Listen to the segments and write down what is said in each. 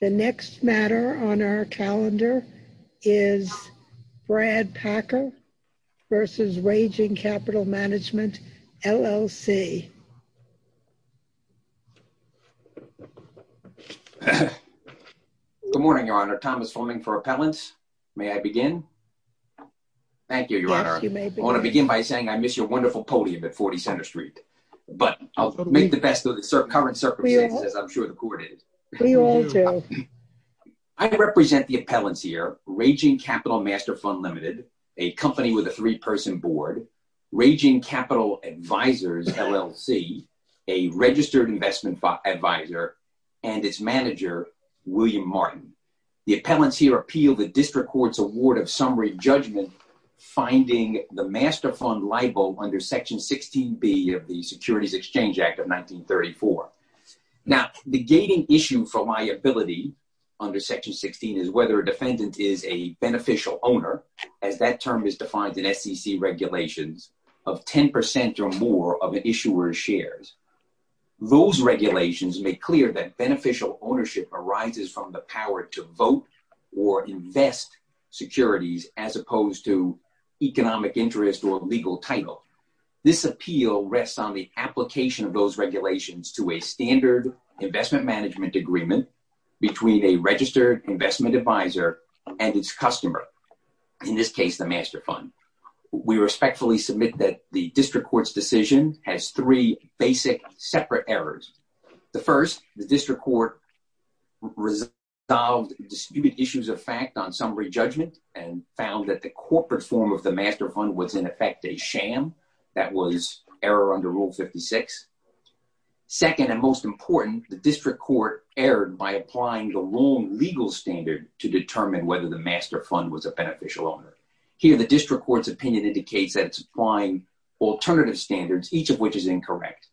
The next matter on our calendar is Brad Packer v. Raging Capital Management LLC. Good morning, Your Honor. Thomas Fleming for appellants. May I begin? Thank you, Your Honor. I want to begin by saying I miss your wonderful podium at 40 Center Street, but I'll make the best of the current circumstances. I'm sure the court is. We all do. I represent the appellants here, Raging Capital Master Fund Limited, a company with a three-person board, Raging Capital Advisors LLC, a registered investment advisor, and its manager, William Martin. The appellants here appeal the district court's Securities Exchange Act of 1934. Now, the gating issue for liability under Section 16 is whether a defendant is a beneficial owner, as that term is defined in SEC regulations, of 10 percent or more of an issuer's shares. Those regulations make clear that beneficial ownership arises from the power to vote or invest securities as opposed to economic interest or legal title. This appeal rests on the application of those regulations to a standard investment management agreement between a registered investment advisor and its customer, in this case, the master fund. We respectfully submit that the district court's decision has three basic separate errors. The first, the district court resolved disputed issues of fact on summary judgment and found that the rule 56. Second and most important, the district court erred by applying the wrong legal standard to determine whether the master fund was a beneficial owner. Here, the district court's opinion indicates that it's applying alternative standards, each of which is incorrect.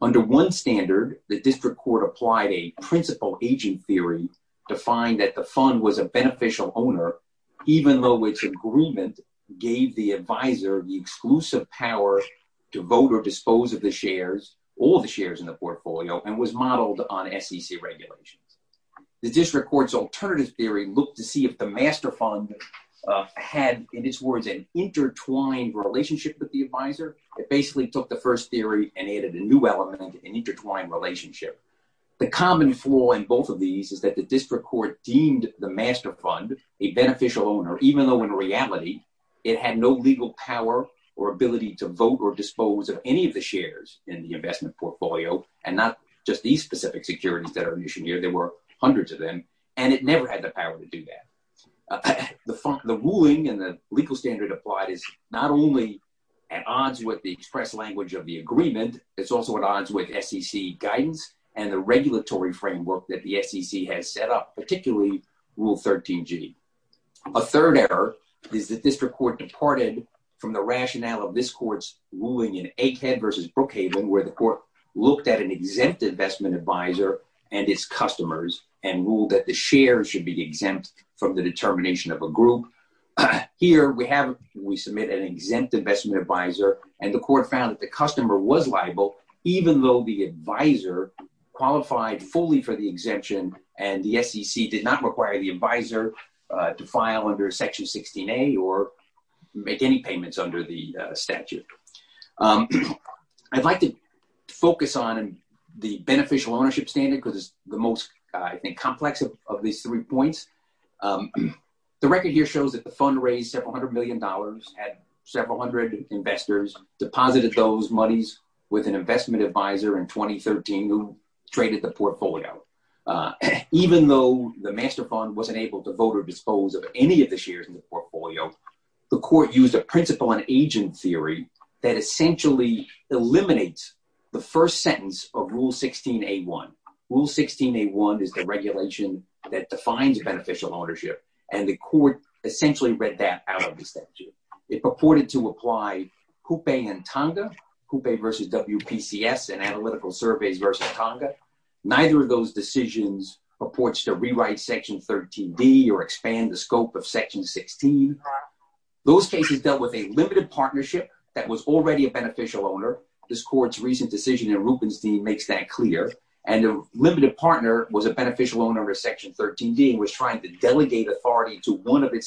Under one standard, the district court applied a principal agent theory to find that the fund was a beneficial owner, even though its agreement gave the advisor the exclusive power to vote or dispose of the shares, all the shares in the portfolio, and was modeled on SEC regulations. The district court's alternative theory looked to see if the master fund had, in its words, an intertwined relationship with the advisor. It basically took the first theory and added a new element, an intertwined relationship. The common flaw in both of these is that the district court deemed the master fund a beneficial owner, even though in reality it had no legal power or ability to vote or dispose of any of the shares in the investment portfolio, and not just these specific securities that are issued here. There were hundreds of them, and it never had the power to do that. The ruling and the legal standard applied is not only at odds with the express language of the agreement, it's also at odds with SEC guidance and the regulatory framework that the SEC has set up, particularly Rule 13g. A third error is that district court departed from the rationale of this court's ruling in Aikhead versus Brookhaven, where the court looked at an exempt investment advisor and its customers and ruled that the shares should be exempt from the determination of a group. Here, we have, we submit an exempt investment advisor, and the court found that the customer was liable, even though the advisor qualified fully for the exemption and the SEC did not require the advisor to file under Section 16a or make any payments under the statute. I'd like to focus on the beneficial ownership standard because it's the most, I think, complex of these three points. The record here shows that the fund raised several hundred million dollars, had several hundred investors, deposited those monies with an investment advisor in 2013 who traded the portfolio. Even though the master fund wasn't able to vote or dispose of any of the shares in the portfolio, the court used a principle and agent theory that essentially eliminates the first sentence of Rule 16a1. Rule 16a1 is the regulation that defines beneficial ownership, and the court essentially read that out of the statute. It purported to apply Coupe and Tonga, Coupe versus WPCS and Analytical Surveys versus Tonga. Neither of those decisions purports to rewrite Section 13d or expand the scope of Section 16. Those cases dealt with a limited partnership that was already a beneficial owner. This court's recent decision in Rubenstein makes that clear, and a limited partner was a one of its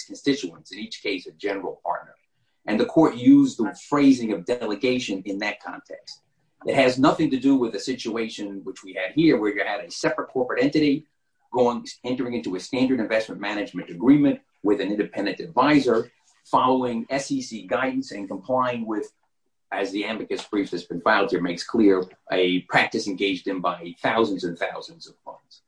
constituents, in each case a general partner, and the court used the phrasing of delegation in that context. It has nothing to do with the situation which we had here, where you had a separate corporate entity entering into a standard investment management agreement with an independent advisor, following SEC guidance and complying with, as the amicus brief that's been filed here makes clear, a practice engaged in by thousands and thousands of funds.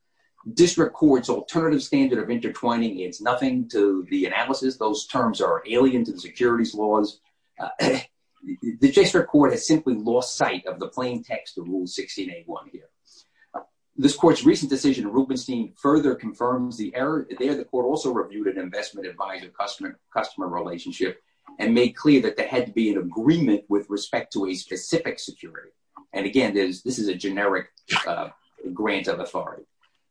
District Court's alternative standard of intertwining is nothing to the analysis. Those terms are alien to the securities laws. The district court has simply lost sight of the plain text of Rule 16a1 here. This court's recent decision in Rubenstein further confirms the error there. The court also reviewed an investment advisor-customer relationship and made clear that there had to be an agreement with respect to a specific security. And again, this is a generic grant of authority.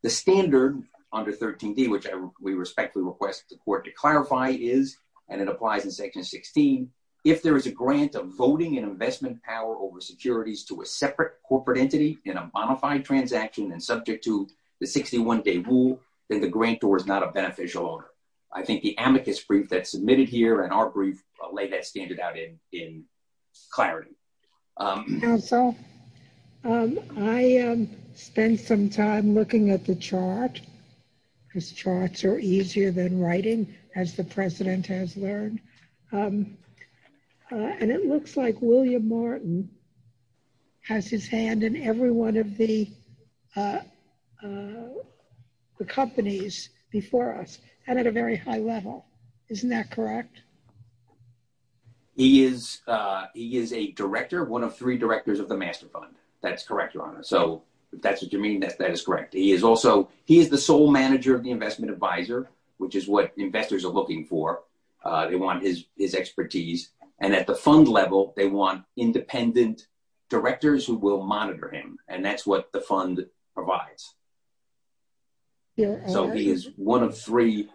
The standard under 13d, which we respectfully request the court to clarify, is, and it applies in section 16, if there is a grant of voting and investment power over securities to a separate corporate entity in a bona fide transaction and subject to the 61-day rule, then the grantor is not a beneficial owner. I think the amicus brief that's submitted here and our brief lay that standard out in clarity. Counsel, I spent some time looking at the chart, because charts are easier than writing, as the president has learned. And it looks like William Martin has his hand in every one of the before us and at a very high level. Isn't that correct? He is a director, one of three directors of the Master Fund. That's correct, Your Honor. So if that's what you mean, that is correct. He is also, he is the sole manager of the investment advisor, which is what investors are looking for. They want his expertise. And at the fund level, they want independent directors who will monitor him. And that's what the fund provides. Yeah. So he is one of three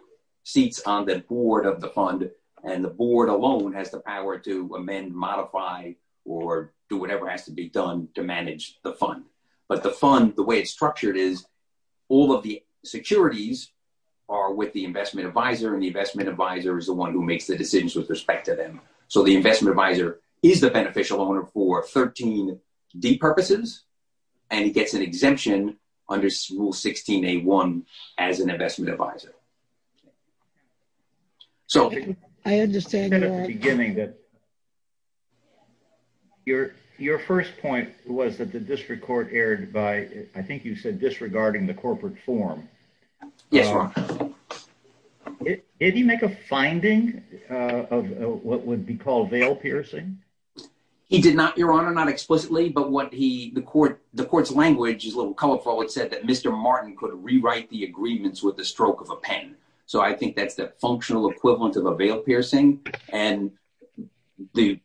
seats on the board of the fund, and the board alone has the power to amend, modify, or do whatever has to be done to manage the fund. But the fund, the way it's structured is all of the securities are with the investment advisor, and the investment advisor is the one who makes the decisions with respect to them. So the investment advisor is the beneficial owner for 13D purposes, and he gets an exemption under Rule 16A1 as an investment advisor. Your first point was that the district court erred by, I think you said, disregarding the corporate form. Yes, Your Honor. Did he make a finding of what would be called veil piercing? He did not, Your Honor, not explicitly, but what he, the court's language is a little colorful. It said that Mr. Martin could rewrite the agreements with the stroke of a pen. So I think that's the functional equivalent of a veil piercing. And the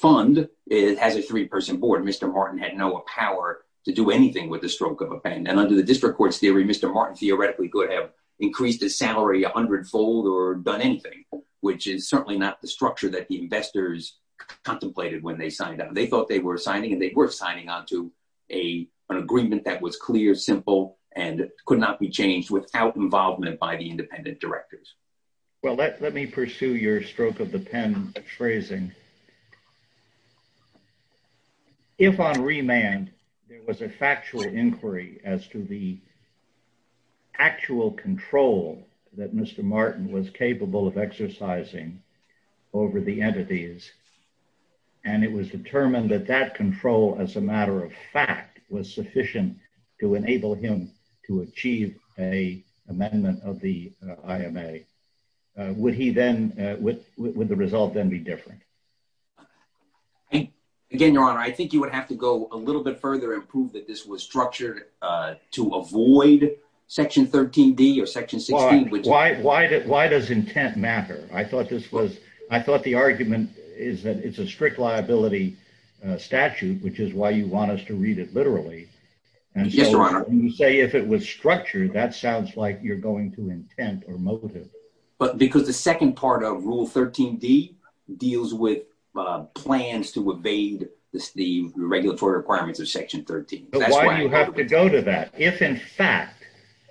fund has a three-person board. Mr. Martin had no power to do anything with the stroke of a pen. And under the district court's theory, Mr. Martin theoretically could have increased his salary a hundredfold or done anything, which is certainly not the structure that the investors contemplated when they signed up. They thought they were signing, and they were signing onto an agreement that was clear, simple, and could not be changed without involvement by the independent directors. Well, let me pursue your stroke of the pen phrasing. If on remand, there was a factual inquiry as to the actual control that Mr. Martin was capable of exercising over the entities, and it was determined that that control as a matter of fact was sufficient to enable him to achieve a amendment of the IMA, would the result then be different? Again, Your Honor, I think you would have to go a little bit further and prove that this was structured to avoid Section 13D or Section 16. Why does intent matter? I thought the argument is that it's a strict liability statute, which is why you want us to read it literally. And so when you say if it was structured, that sounds like you're going to intent or motive. But because the second part of Rule 13D deals with plans to evade the regulatory requirements of Section 13. Why do you have to go to that? If, in fact,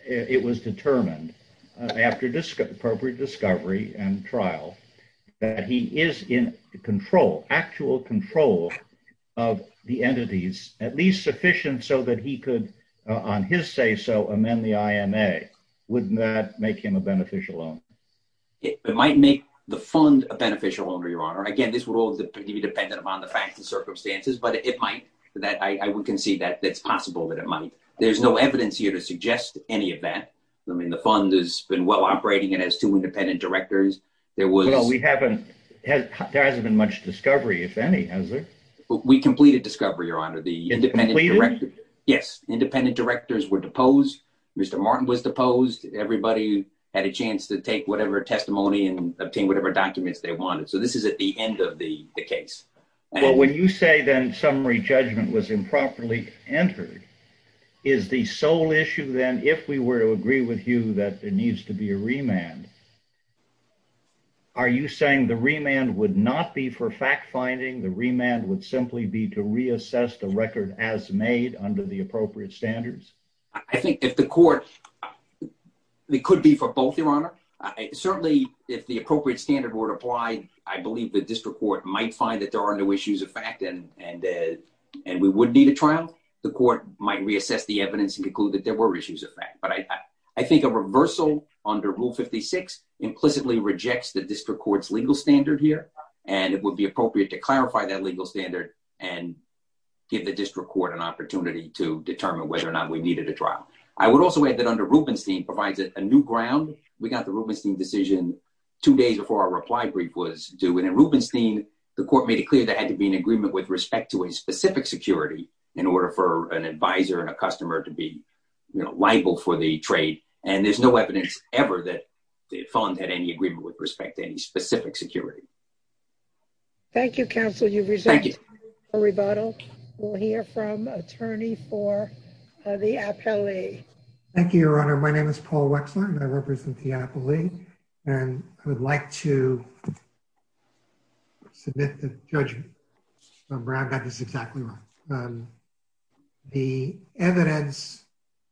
it was determined after appropriate discovery and trial that he is in control, actual control of the entities, at least sufficient so that he could, on his say-so, amend the IMA, wouldn't that make him a beneficial owner? It might make the fund a beneficial owner, Your Honor. Again, this would all be dependent upon the facts and circumstances, but it might. I would concede that it's possible that it might. There's no evidence here to suggest any of that. I mean, the fund has been well operating and has two independent directors. There hasn't been much discovery, if any, has there? We completed discovery, Your Honor. The independent directors were deposed. Mr. Martin was deposed. Everybody had a chance to take whatever testimony and obtain whatever documents they needed. Well, when you say, then, summary judgment was improperly entered, is the sole issue, then, if we were to agree with you that there needs to be a remand, are you saying the remand would not be for fact-finding? The remand would simply be to reassess the record as made under the appropriate standards? I think if the court, it could be for both, Your Honor. Certainly, if the appropriate standard were to apply, I believe the district court might find that there are no issues of fact and we would need a trial. The court might reassess the evidence and conclude that there were issues of fact, but I think a reversal under Rule 56 implicitly rejects the district court's legal standard here, and it would be appropriate to clarify that legal standard and give the district court an opportunity to determine whether or not we needed a trial. I would also add that under Rubenstein decision, two days before our reply brief was due, and in Rubenstein, the court made it clear there had to be an agreement with respect to a specific security in order for an advisor and a customer to be, you know, liable for the trade, and there's no evidence ever that the fund had any agreement with respect to any specific security. Thank you, counsel. You've resumed your rebuttal. We'll hear from attorney for the appellee. Thank you, Your Honor. My name is Paul Wexler and I am the attorney for the appellee, and I would like to submit the judgment that Brad got this exactly right. The evidence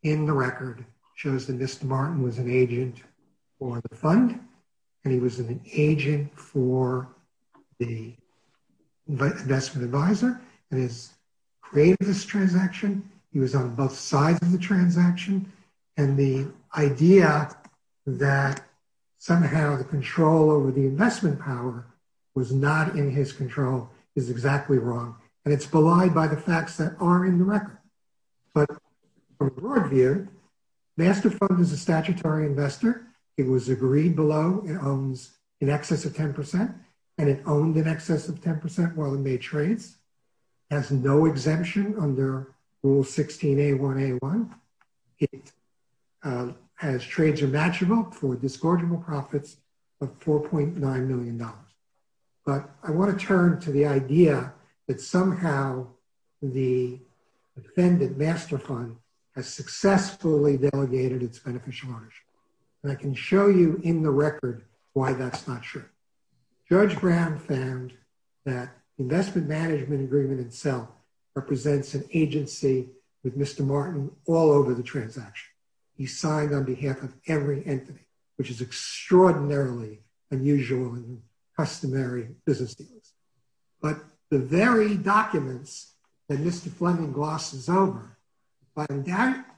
in the record shows that Mr. Martin was an agent for the fund and he was an agent for the investment advisor and his creative this transaction. He was on both sides of the somehow the control over the investment power was not in his control is exactly wrong, and it's belied by the facts that are in the record, but from a broad view, Master Fund is a statutory investor. It was agreed below it owns in excess of 10% and it owned in excess of 10% while it made has no exemption under Rule 16A1A1. It has trades are matchable for disgorgeable profits of $4.9 million, but I want to turn to the idea that somehow the defendant, Master Fund, has successfully delegated its beneficial ownership, and I can show you in the record why that's not true. Judge Brown found that investment management agreement itself represents an agency with Mr. Martin all over the transaction. He signed on behalf of every entity, which is extraordinarily unusual in customary businesses, but the very documents that Mr. Fleming glosses over, but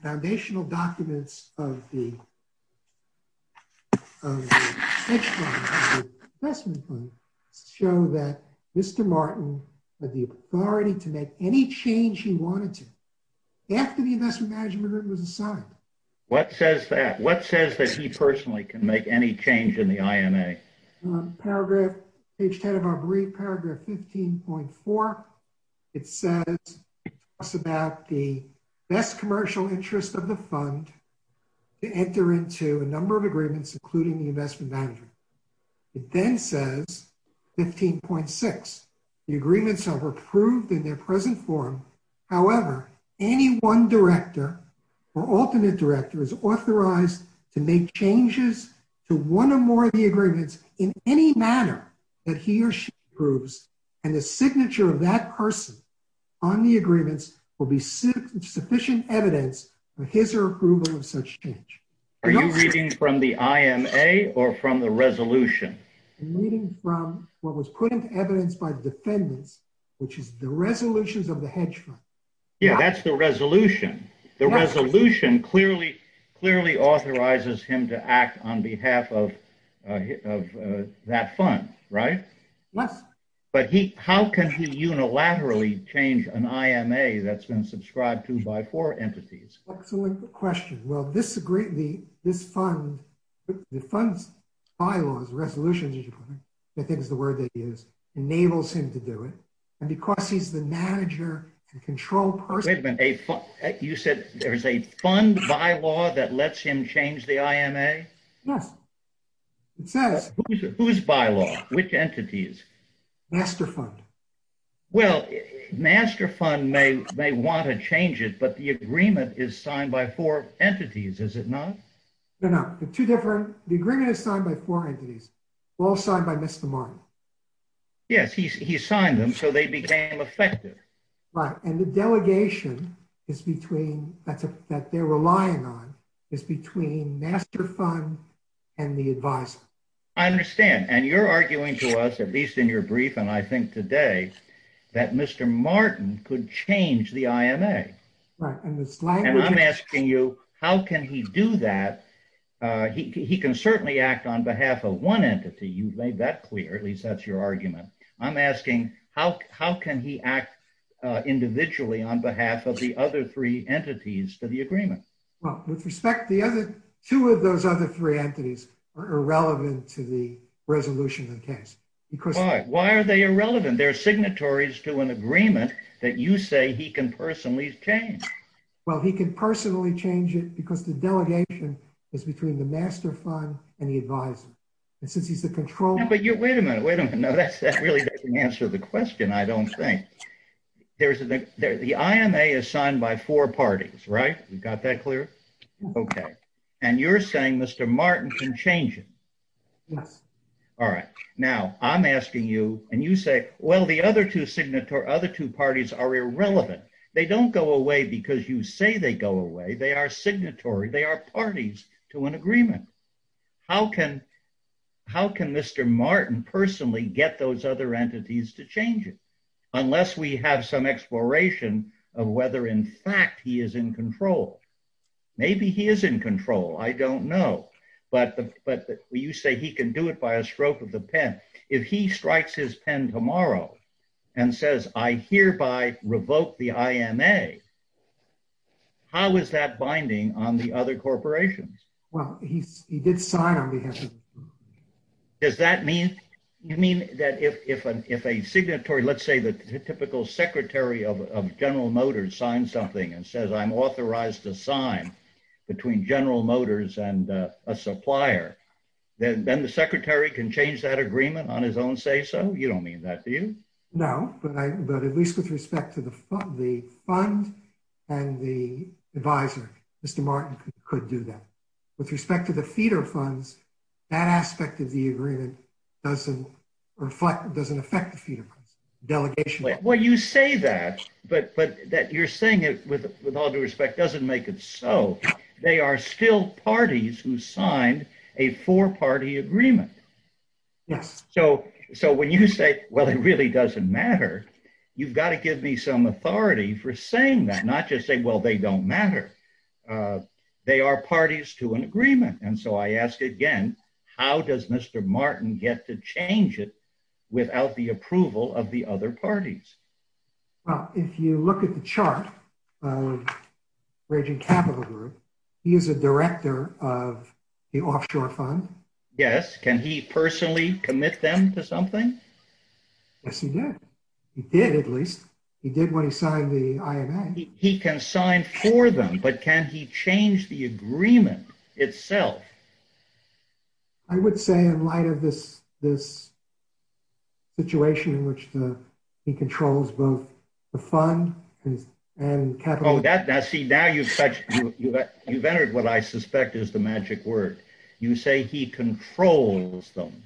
foundational documents of the investment fund show that Mr. Martin had the authority to make any change he wanted to after the investment management agreement was signed. What says that? What says that he talks about the best commercial interest of the fund to enter into a number of agreements, including the investment management? It then says 15.6, the agreements are approved in their present form. However, any one director or alternate director is authorized to make changes to one or more of the agreements in any manner that he or she approves, and the signature of that person on the agreements will be sufficient evidence of his or her approval of such change. Are you reading from the IMA or from the resolution? I'm reading from what was put into evidence by the defendants, which is the resolutions of the hedge fund. Yeah, that's the resolution. The resolution clearly authorizes him to act on behalf of that fund, right? Yes. But how can he unilaterally change an IMA that's been subscribed to by four entities? Excellent question. Well, this fund's bylaws, resolutions, I think is the word that he used, enables him to do it, and because he's the manager and control person- Wait a minute, you said there's a fund bylaw that lets him change the IMA? Yes, it says- Whose bylaw? Which entities? Master Fund. Well, Master Fund may want to change it, but the agreement is signed by four entities, is it not? No, no, they're two different. The agreement is signed by four entities, all signed by Mr. Martin. Yes, he signed them, so they became effective. Right, and the delegation that they're relying on is between Master Fund and the advisor. I understand, and you're arguing to us, at least in your brief and I think today, that Mr. Martin could change the IMA. Right, and the slang- And I'm asking you, how can he do that? He can certainly act on behalf of one entity, you've made that clear, at least that's your argument. He can certainly act individually on behalf of the other three entities to the agreement. Well, with respect, the other two of those other three entities are irrelevant to the resolution of the case because- Why? Why are they irrelevant? They're signatories to an agreement that you say he can personally change. Well, he can personally change it because the delegation is between the Master Fund and the advisor, and since he's the control- But you- Wait a minute, wait a minute, that really doesn't answer the question, I don't think. The IMA is signed by four parties, right? We've got that clear? Okay, and you're saying Mr. Martin can change it? Yes. All right, now I'm asking you, and you say, well, the other two parties are irrelevant. They don't go away because you say they go away, they are signatory, they are parties to an agreement that you say he can personally change it, unless we get those other entities to change it, unless we have some exploration of whether, in fact, he is in control. Maybe he is in control, I don't know, but you say he can do it by a stroke of the pen. If he strikes his pen tomorrow and says, I hereby revoke the IMA, how is that binding on the other corporations? Well, he did sign on behalf of- Does that mean that if a signatory, let's say the typical secretary of General Motors signs something and says, I'm authorized to sign between General Motors and a supplier, then the secretary can change that agreement on his own say-so? You don't mean that, do you? No, but at least with respect to the fund and the advisor, Mr. Martin could do that. With respect to the feeder funds, that aspect of the agreement doesn't affect the feeder funds, delegation- Well, you say that, but that you're saying it with all due respect doesn't make it so. They are still parties who signed a four-party agreement. Yes. So, when you say, well, it really doesn't matter, you've got to give me some authority for saying that, not just say, well, they don't matter. They are parties to an agreement. And so, I ask again, how does Mr. Martin get to change it without the approval of the other parties? Well, if you look at the chart of Raging Capital Group, he is a director of the offshore fund. Yes. Can he personally commit them to something? Yes, he did. He did, at least. He did when he signed the IMA. He can sign for them, but can he change the agreement itself? I would say in light of this situation in which he controls both the fund and capital- Now, see, now you've entered what I suspect is the magic word. You say he controls them,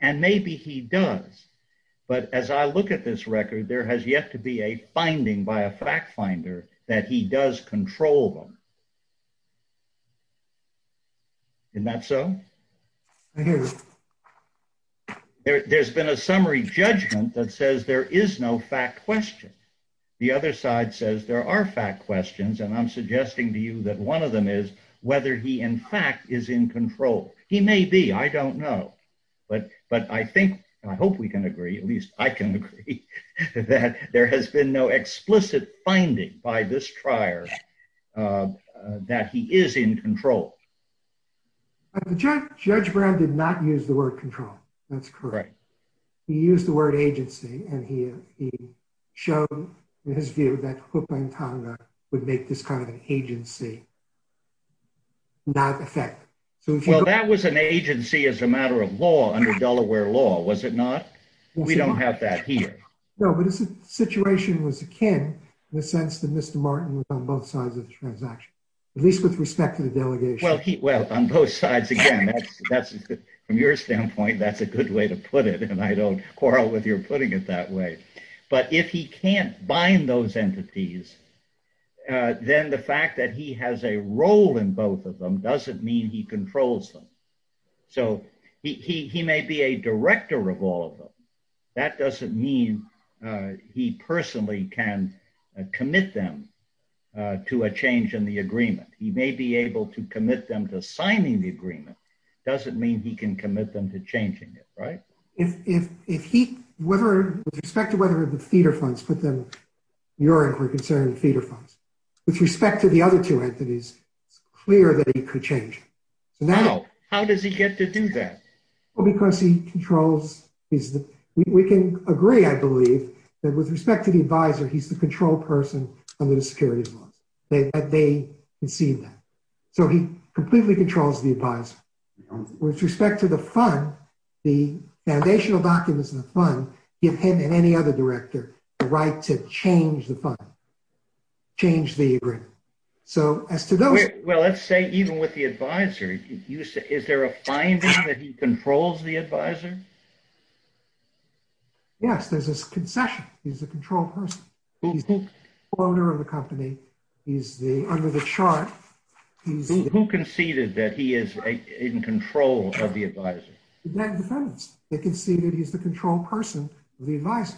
and maybe he does. But as I look at this record, there has yet to be a finding by a fact finder that he does control them. Isn't that so? There's been a summary judgment that says there is no fact question. The other side says there are fact questions, and I'm suggesting to you that one of them is whether he in fact is in control. He may be. I don't know. But I think, and I hope we can agree, at least I can agree, that there has been no explicit finding by this trier that he is in control. Judge Brown did not use the word control. That's correct. He used the word agency, and he showed in his view that Hoopa and Tonga would make this kind of an agency not effect. Well, that was an agency as a matter of law under Delaware law, was it not? We don't have that here. No, but the situation was akin in the sense that Mr. Martin was on both sides of the transaction, at least with respect to the delegation. Well, on both sides, again, from your standpoint, that's a good way to put it, and I don't quarrel with your putting it that way. But if he can't bind those entities, then the fact that he has a role in both of them doesn't mean he controls them. So he may be a director of all of them. That doesn't mean he personally can commit them to a change in the agreement. He may be able to commit them to signing the agreement. Doesn't mean he can commit them to changing it, right? With respect to whether the theater funds put them, your inquiry concerning theater funds, with respect to the other two entities, it's clear that he could change. How does he get to do that? Well, because he controls. We can agree, I believe, that with respect to the advisor, he's the control person under the securities laws. They can see that. So he completely controls the advisor. With respect to the fund, the foundational documents in the fund give him and any other director the right to change the fund, change the agreement. So as to those- Well, let's say even with the advisor, is there a finding that he controls the advisor? Yes, there's this concession. He's the control person. He's the owner of the company. He's under the chart. He's- Who conceded that he is in control of the advisor? The debt defendants. They conceded he's the control person of the advisor.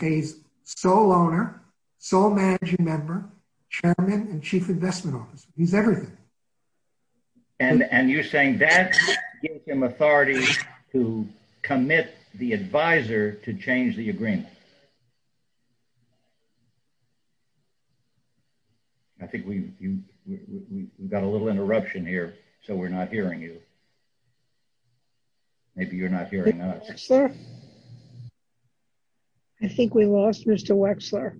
He's sole owner, sole managing member, chairman, and chief investment officer. He's everything. And you're saying that gives him authority to commit the advisor to change the fund? I think we've got a little interruption here, so we're not hearing you. Maybe you're not hearing us. Mr. Wexler? I think we lost Mr. Wexler.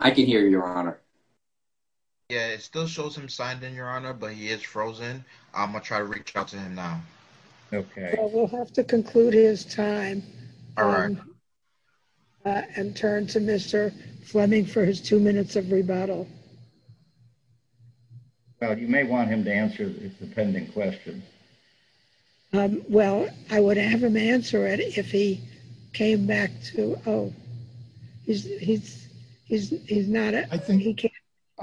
I can hear you, Your Honor. Yeah, it still shows him signed in, Your Honor, but he is frozen. I'm going to try to reach out to him now. Okay. We'll have to conclude his time. All right. And turn to Mr. Fleming for his two minutes of rebuttal. Well, you may want him to answer his dependent questions. Well, I would have him answer it if he came back to- Oh, he's not- I think-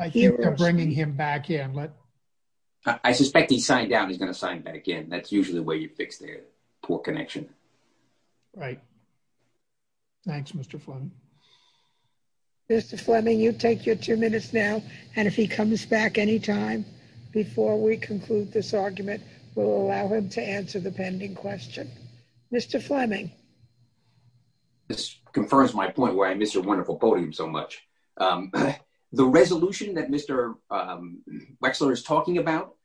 I think they're bringing him back in. I suspect he signed down. He's going to sign back in. That's the way you fix their poor connection. Right. Thanks, Mr. Fleming. Mr. Fleming, you take your two minutes now, and if he comes back any time before we conclude this argument, we'll allow him to answer the pending question. Mr. Fleming? This confirms my point where I miss your wonderful podium so much. The resolution that Mr. is talking about,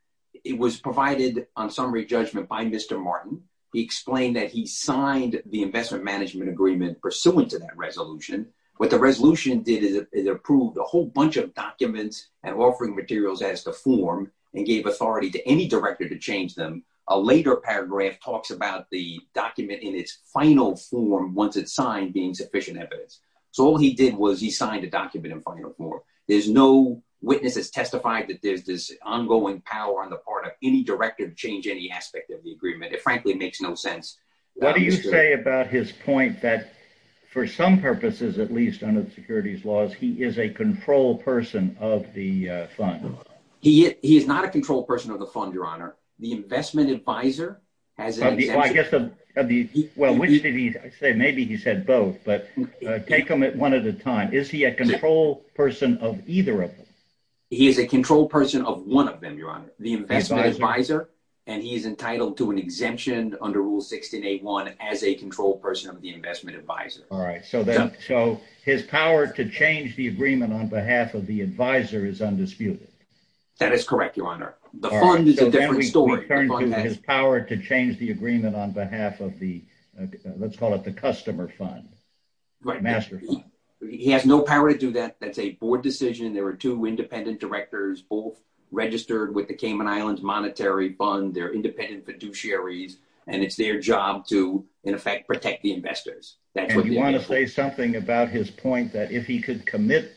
it was provided on summary judgment by Mr. Martin. He explained that he signed the investment management agreement pursuant to that resolution. What the resolution did is it approved a whole bunch of documents and offering materials as the form and gave authority to any director to change them. A later paragraph talks about the document in its final form once it's signed being sufficient evidence. So all he did was he signed a document in final form. There's no witness that's testified that there's this ongoing power on the part of any director to change any aspect of the agreement. It frankly makes no sense. What do you say about his point that for some purposes, at least under the securities laws, he is a control person of the fund? He is not a control person of the fund, your honor. The investment advisor has- Well, which did he say? Maybe he said both, but take them one at a time. Is he a control person of either of them? He is a control person of one of them, your honor, the investment advisor, and he is entitled to an exemption under rule 16.81 as a control person of the investment advisor. All right. So his power to change the agreement on behalf of the advisor is undisputed. That is correct, your honor. The fund is a different story. His power to change the agreement on behalf of the, let's call it the customer fund, the master fund. He has no power to do that. That's a board decision. There are two independent directors, both registered with the Cayman Islands Monetary Fund. They're independent fiduciaries, and it's their job to, in effect, protect the investors. And you want to say something about his point that if he could commit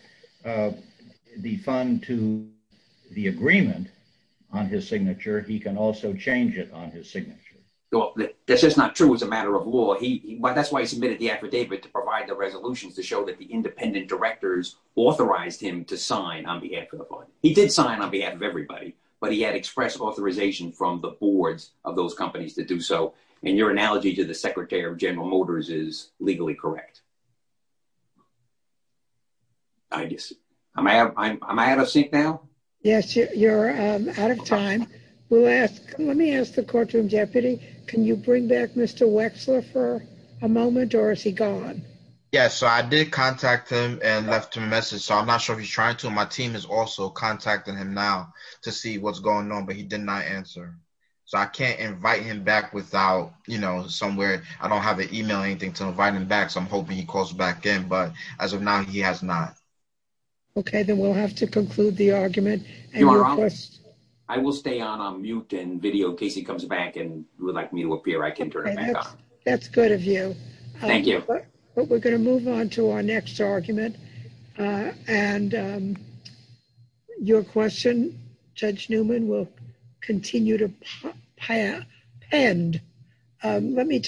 the fund to the agreement on his signature, he can also change it on his signature? Well, that's just not true as a matter of law. That's why he submitted the affidavit to provide the resolutions to show that the independent directors authorized him to sign on behalf of the fund. He did sign on behalf of everybody, but he had expressed authorization from the boards of those companies to do so. And your analogy to the secretary of General Motors is legally correct. I guess, am I out of sync now? Yes, you're out of time. We'll ask, let me ask the courtroom Yes, so I did contact him and left him a message. So I'm not sure if he's trying to. My team is also contacting him now to see what's going on, but he did not answer. So I can't invite him back without, you know, somewhere. I don't have an email or anything to invite him back. So I'm hoping he calls back in. But as of now, he has not. Okay, then we'll have to conclude the argument. I will stay on mute and video in case he comes back and would like me to appear. I can turn it off. That's good of you. Thank you. But we're going to move on to our next argument. And your question, Judge Newman will continue to penned. Let me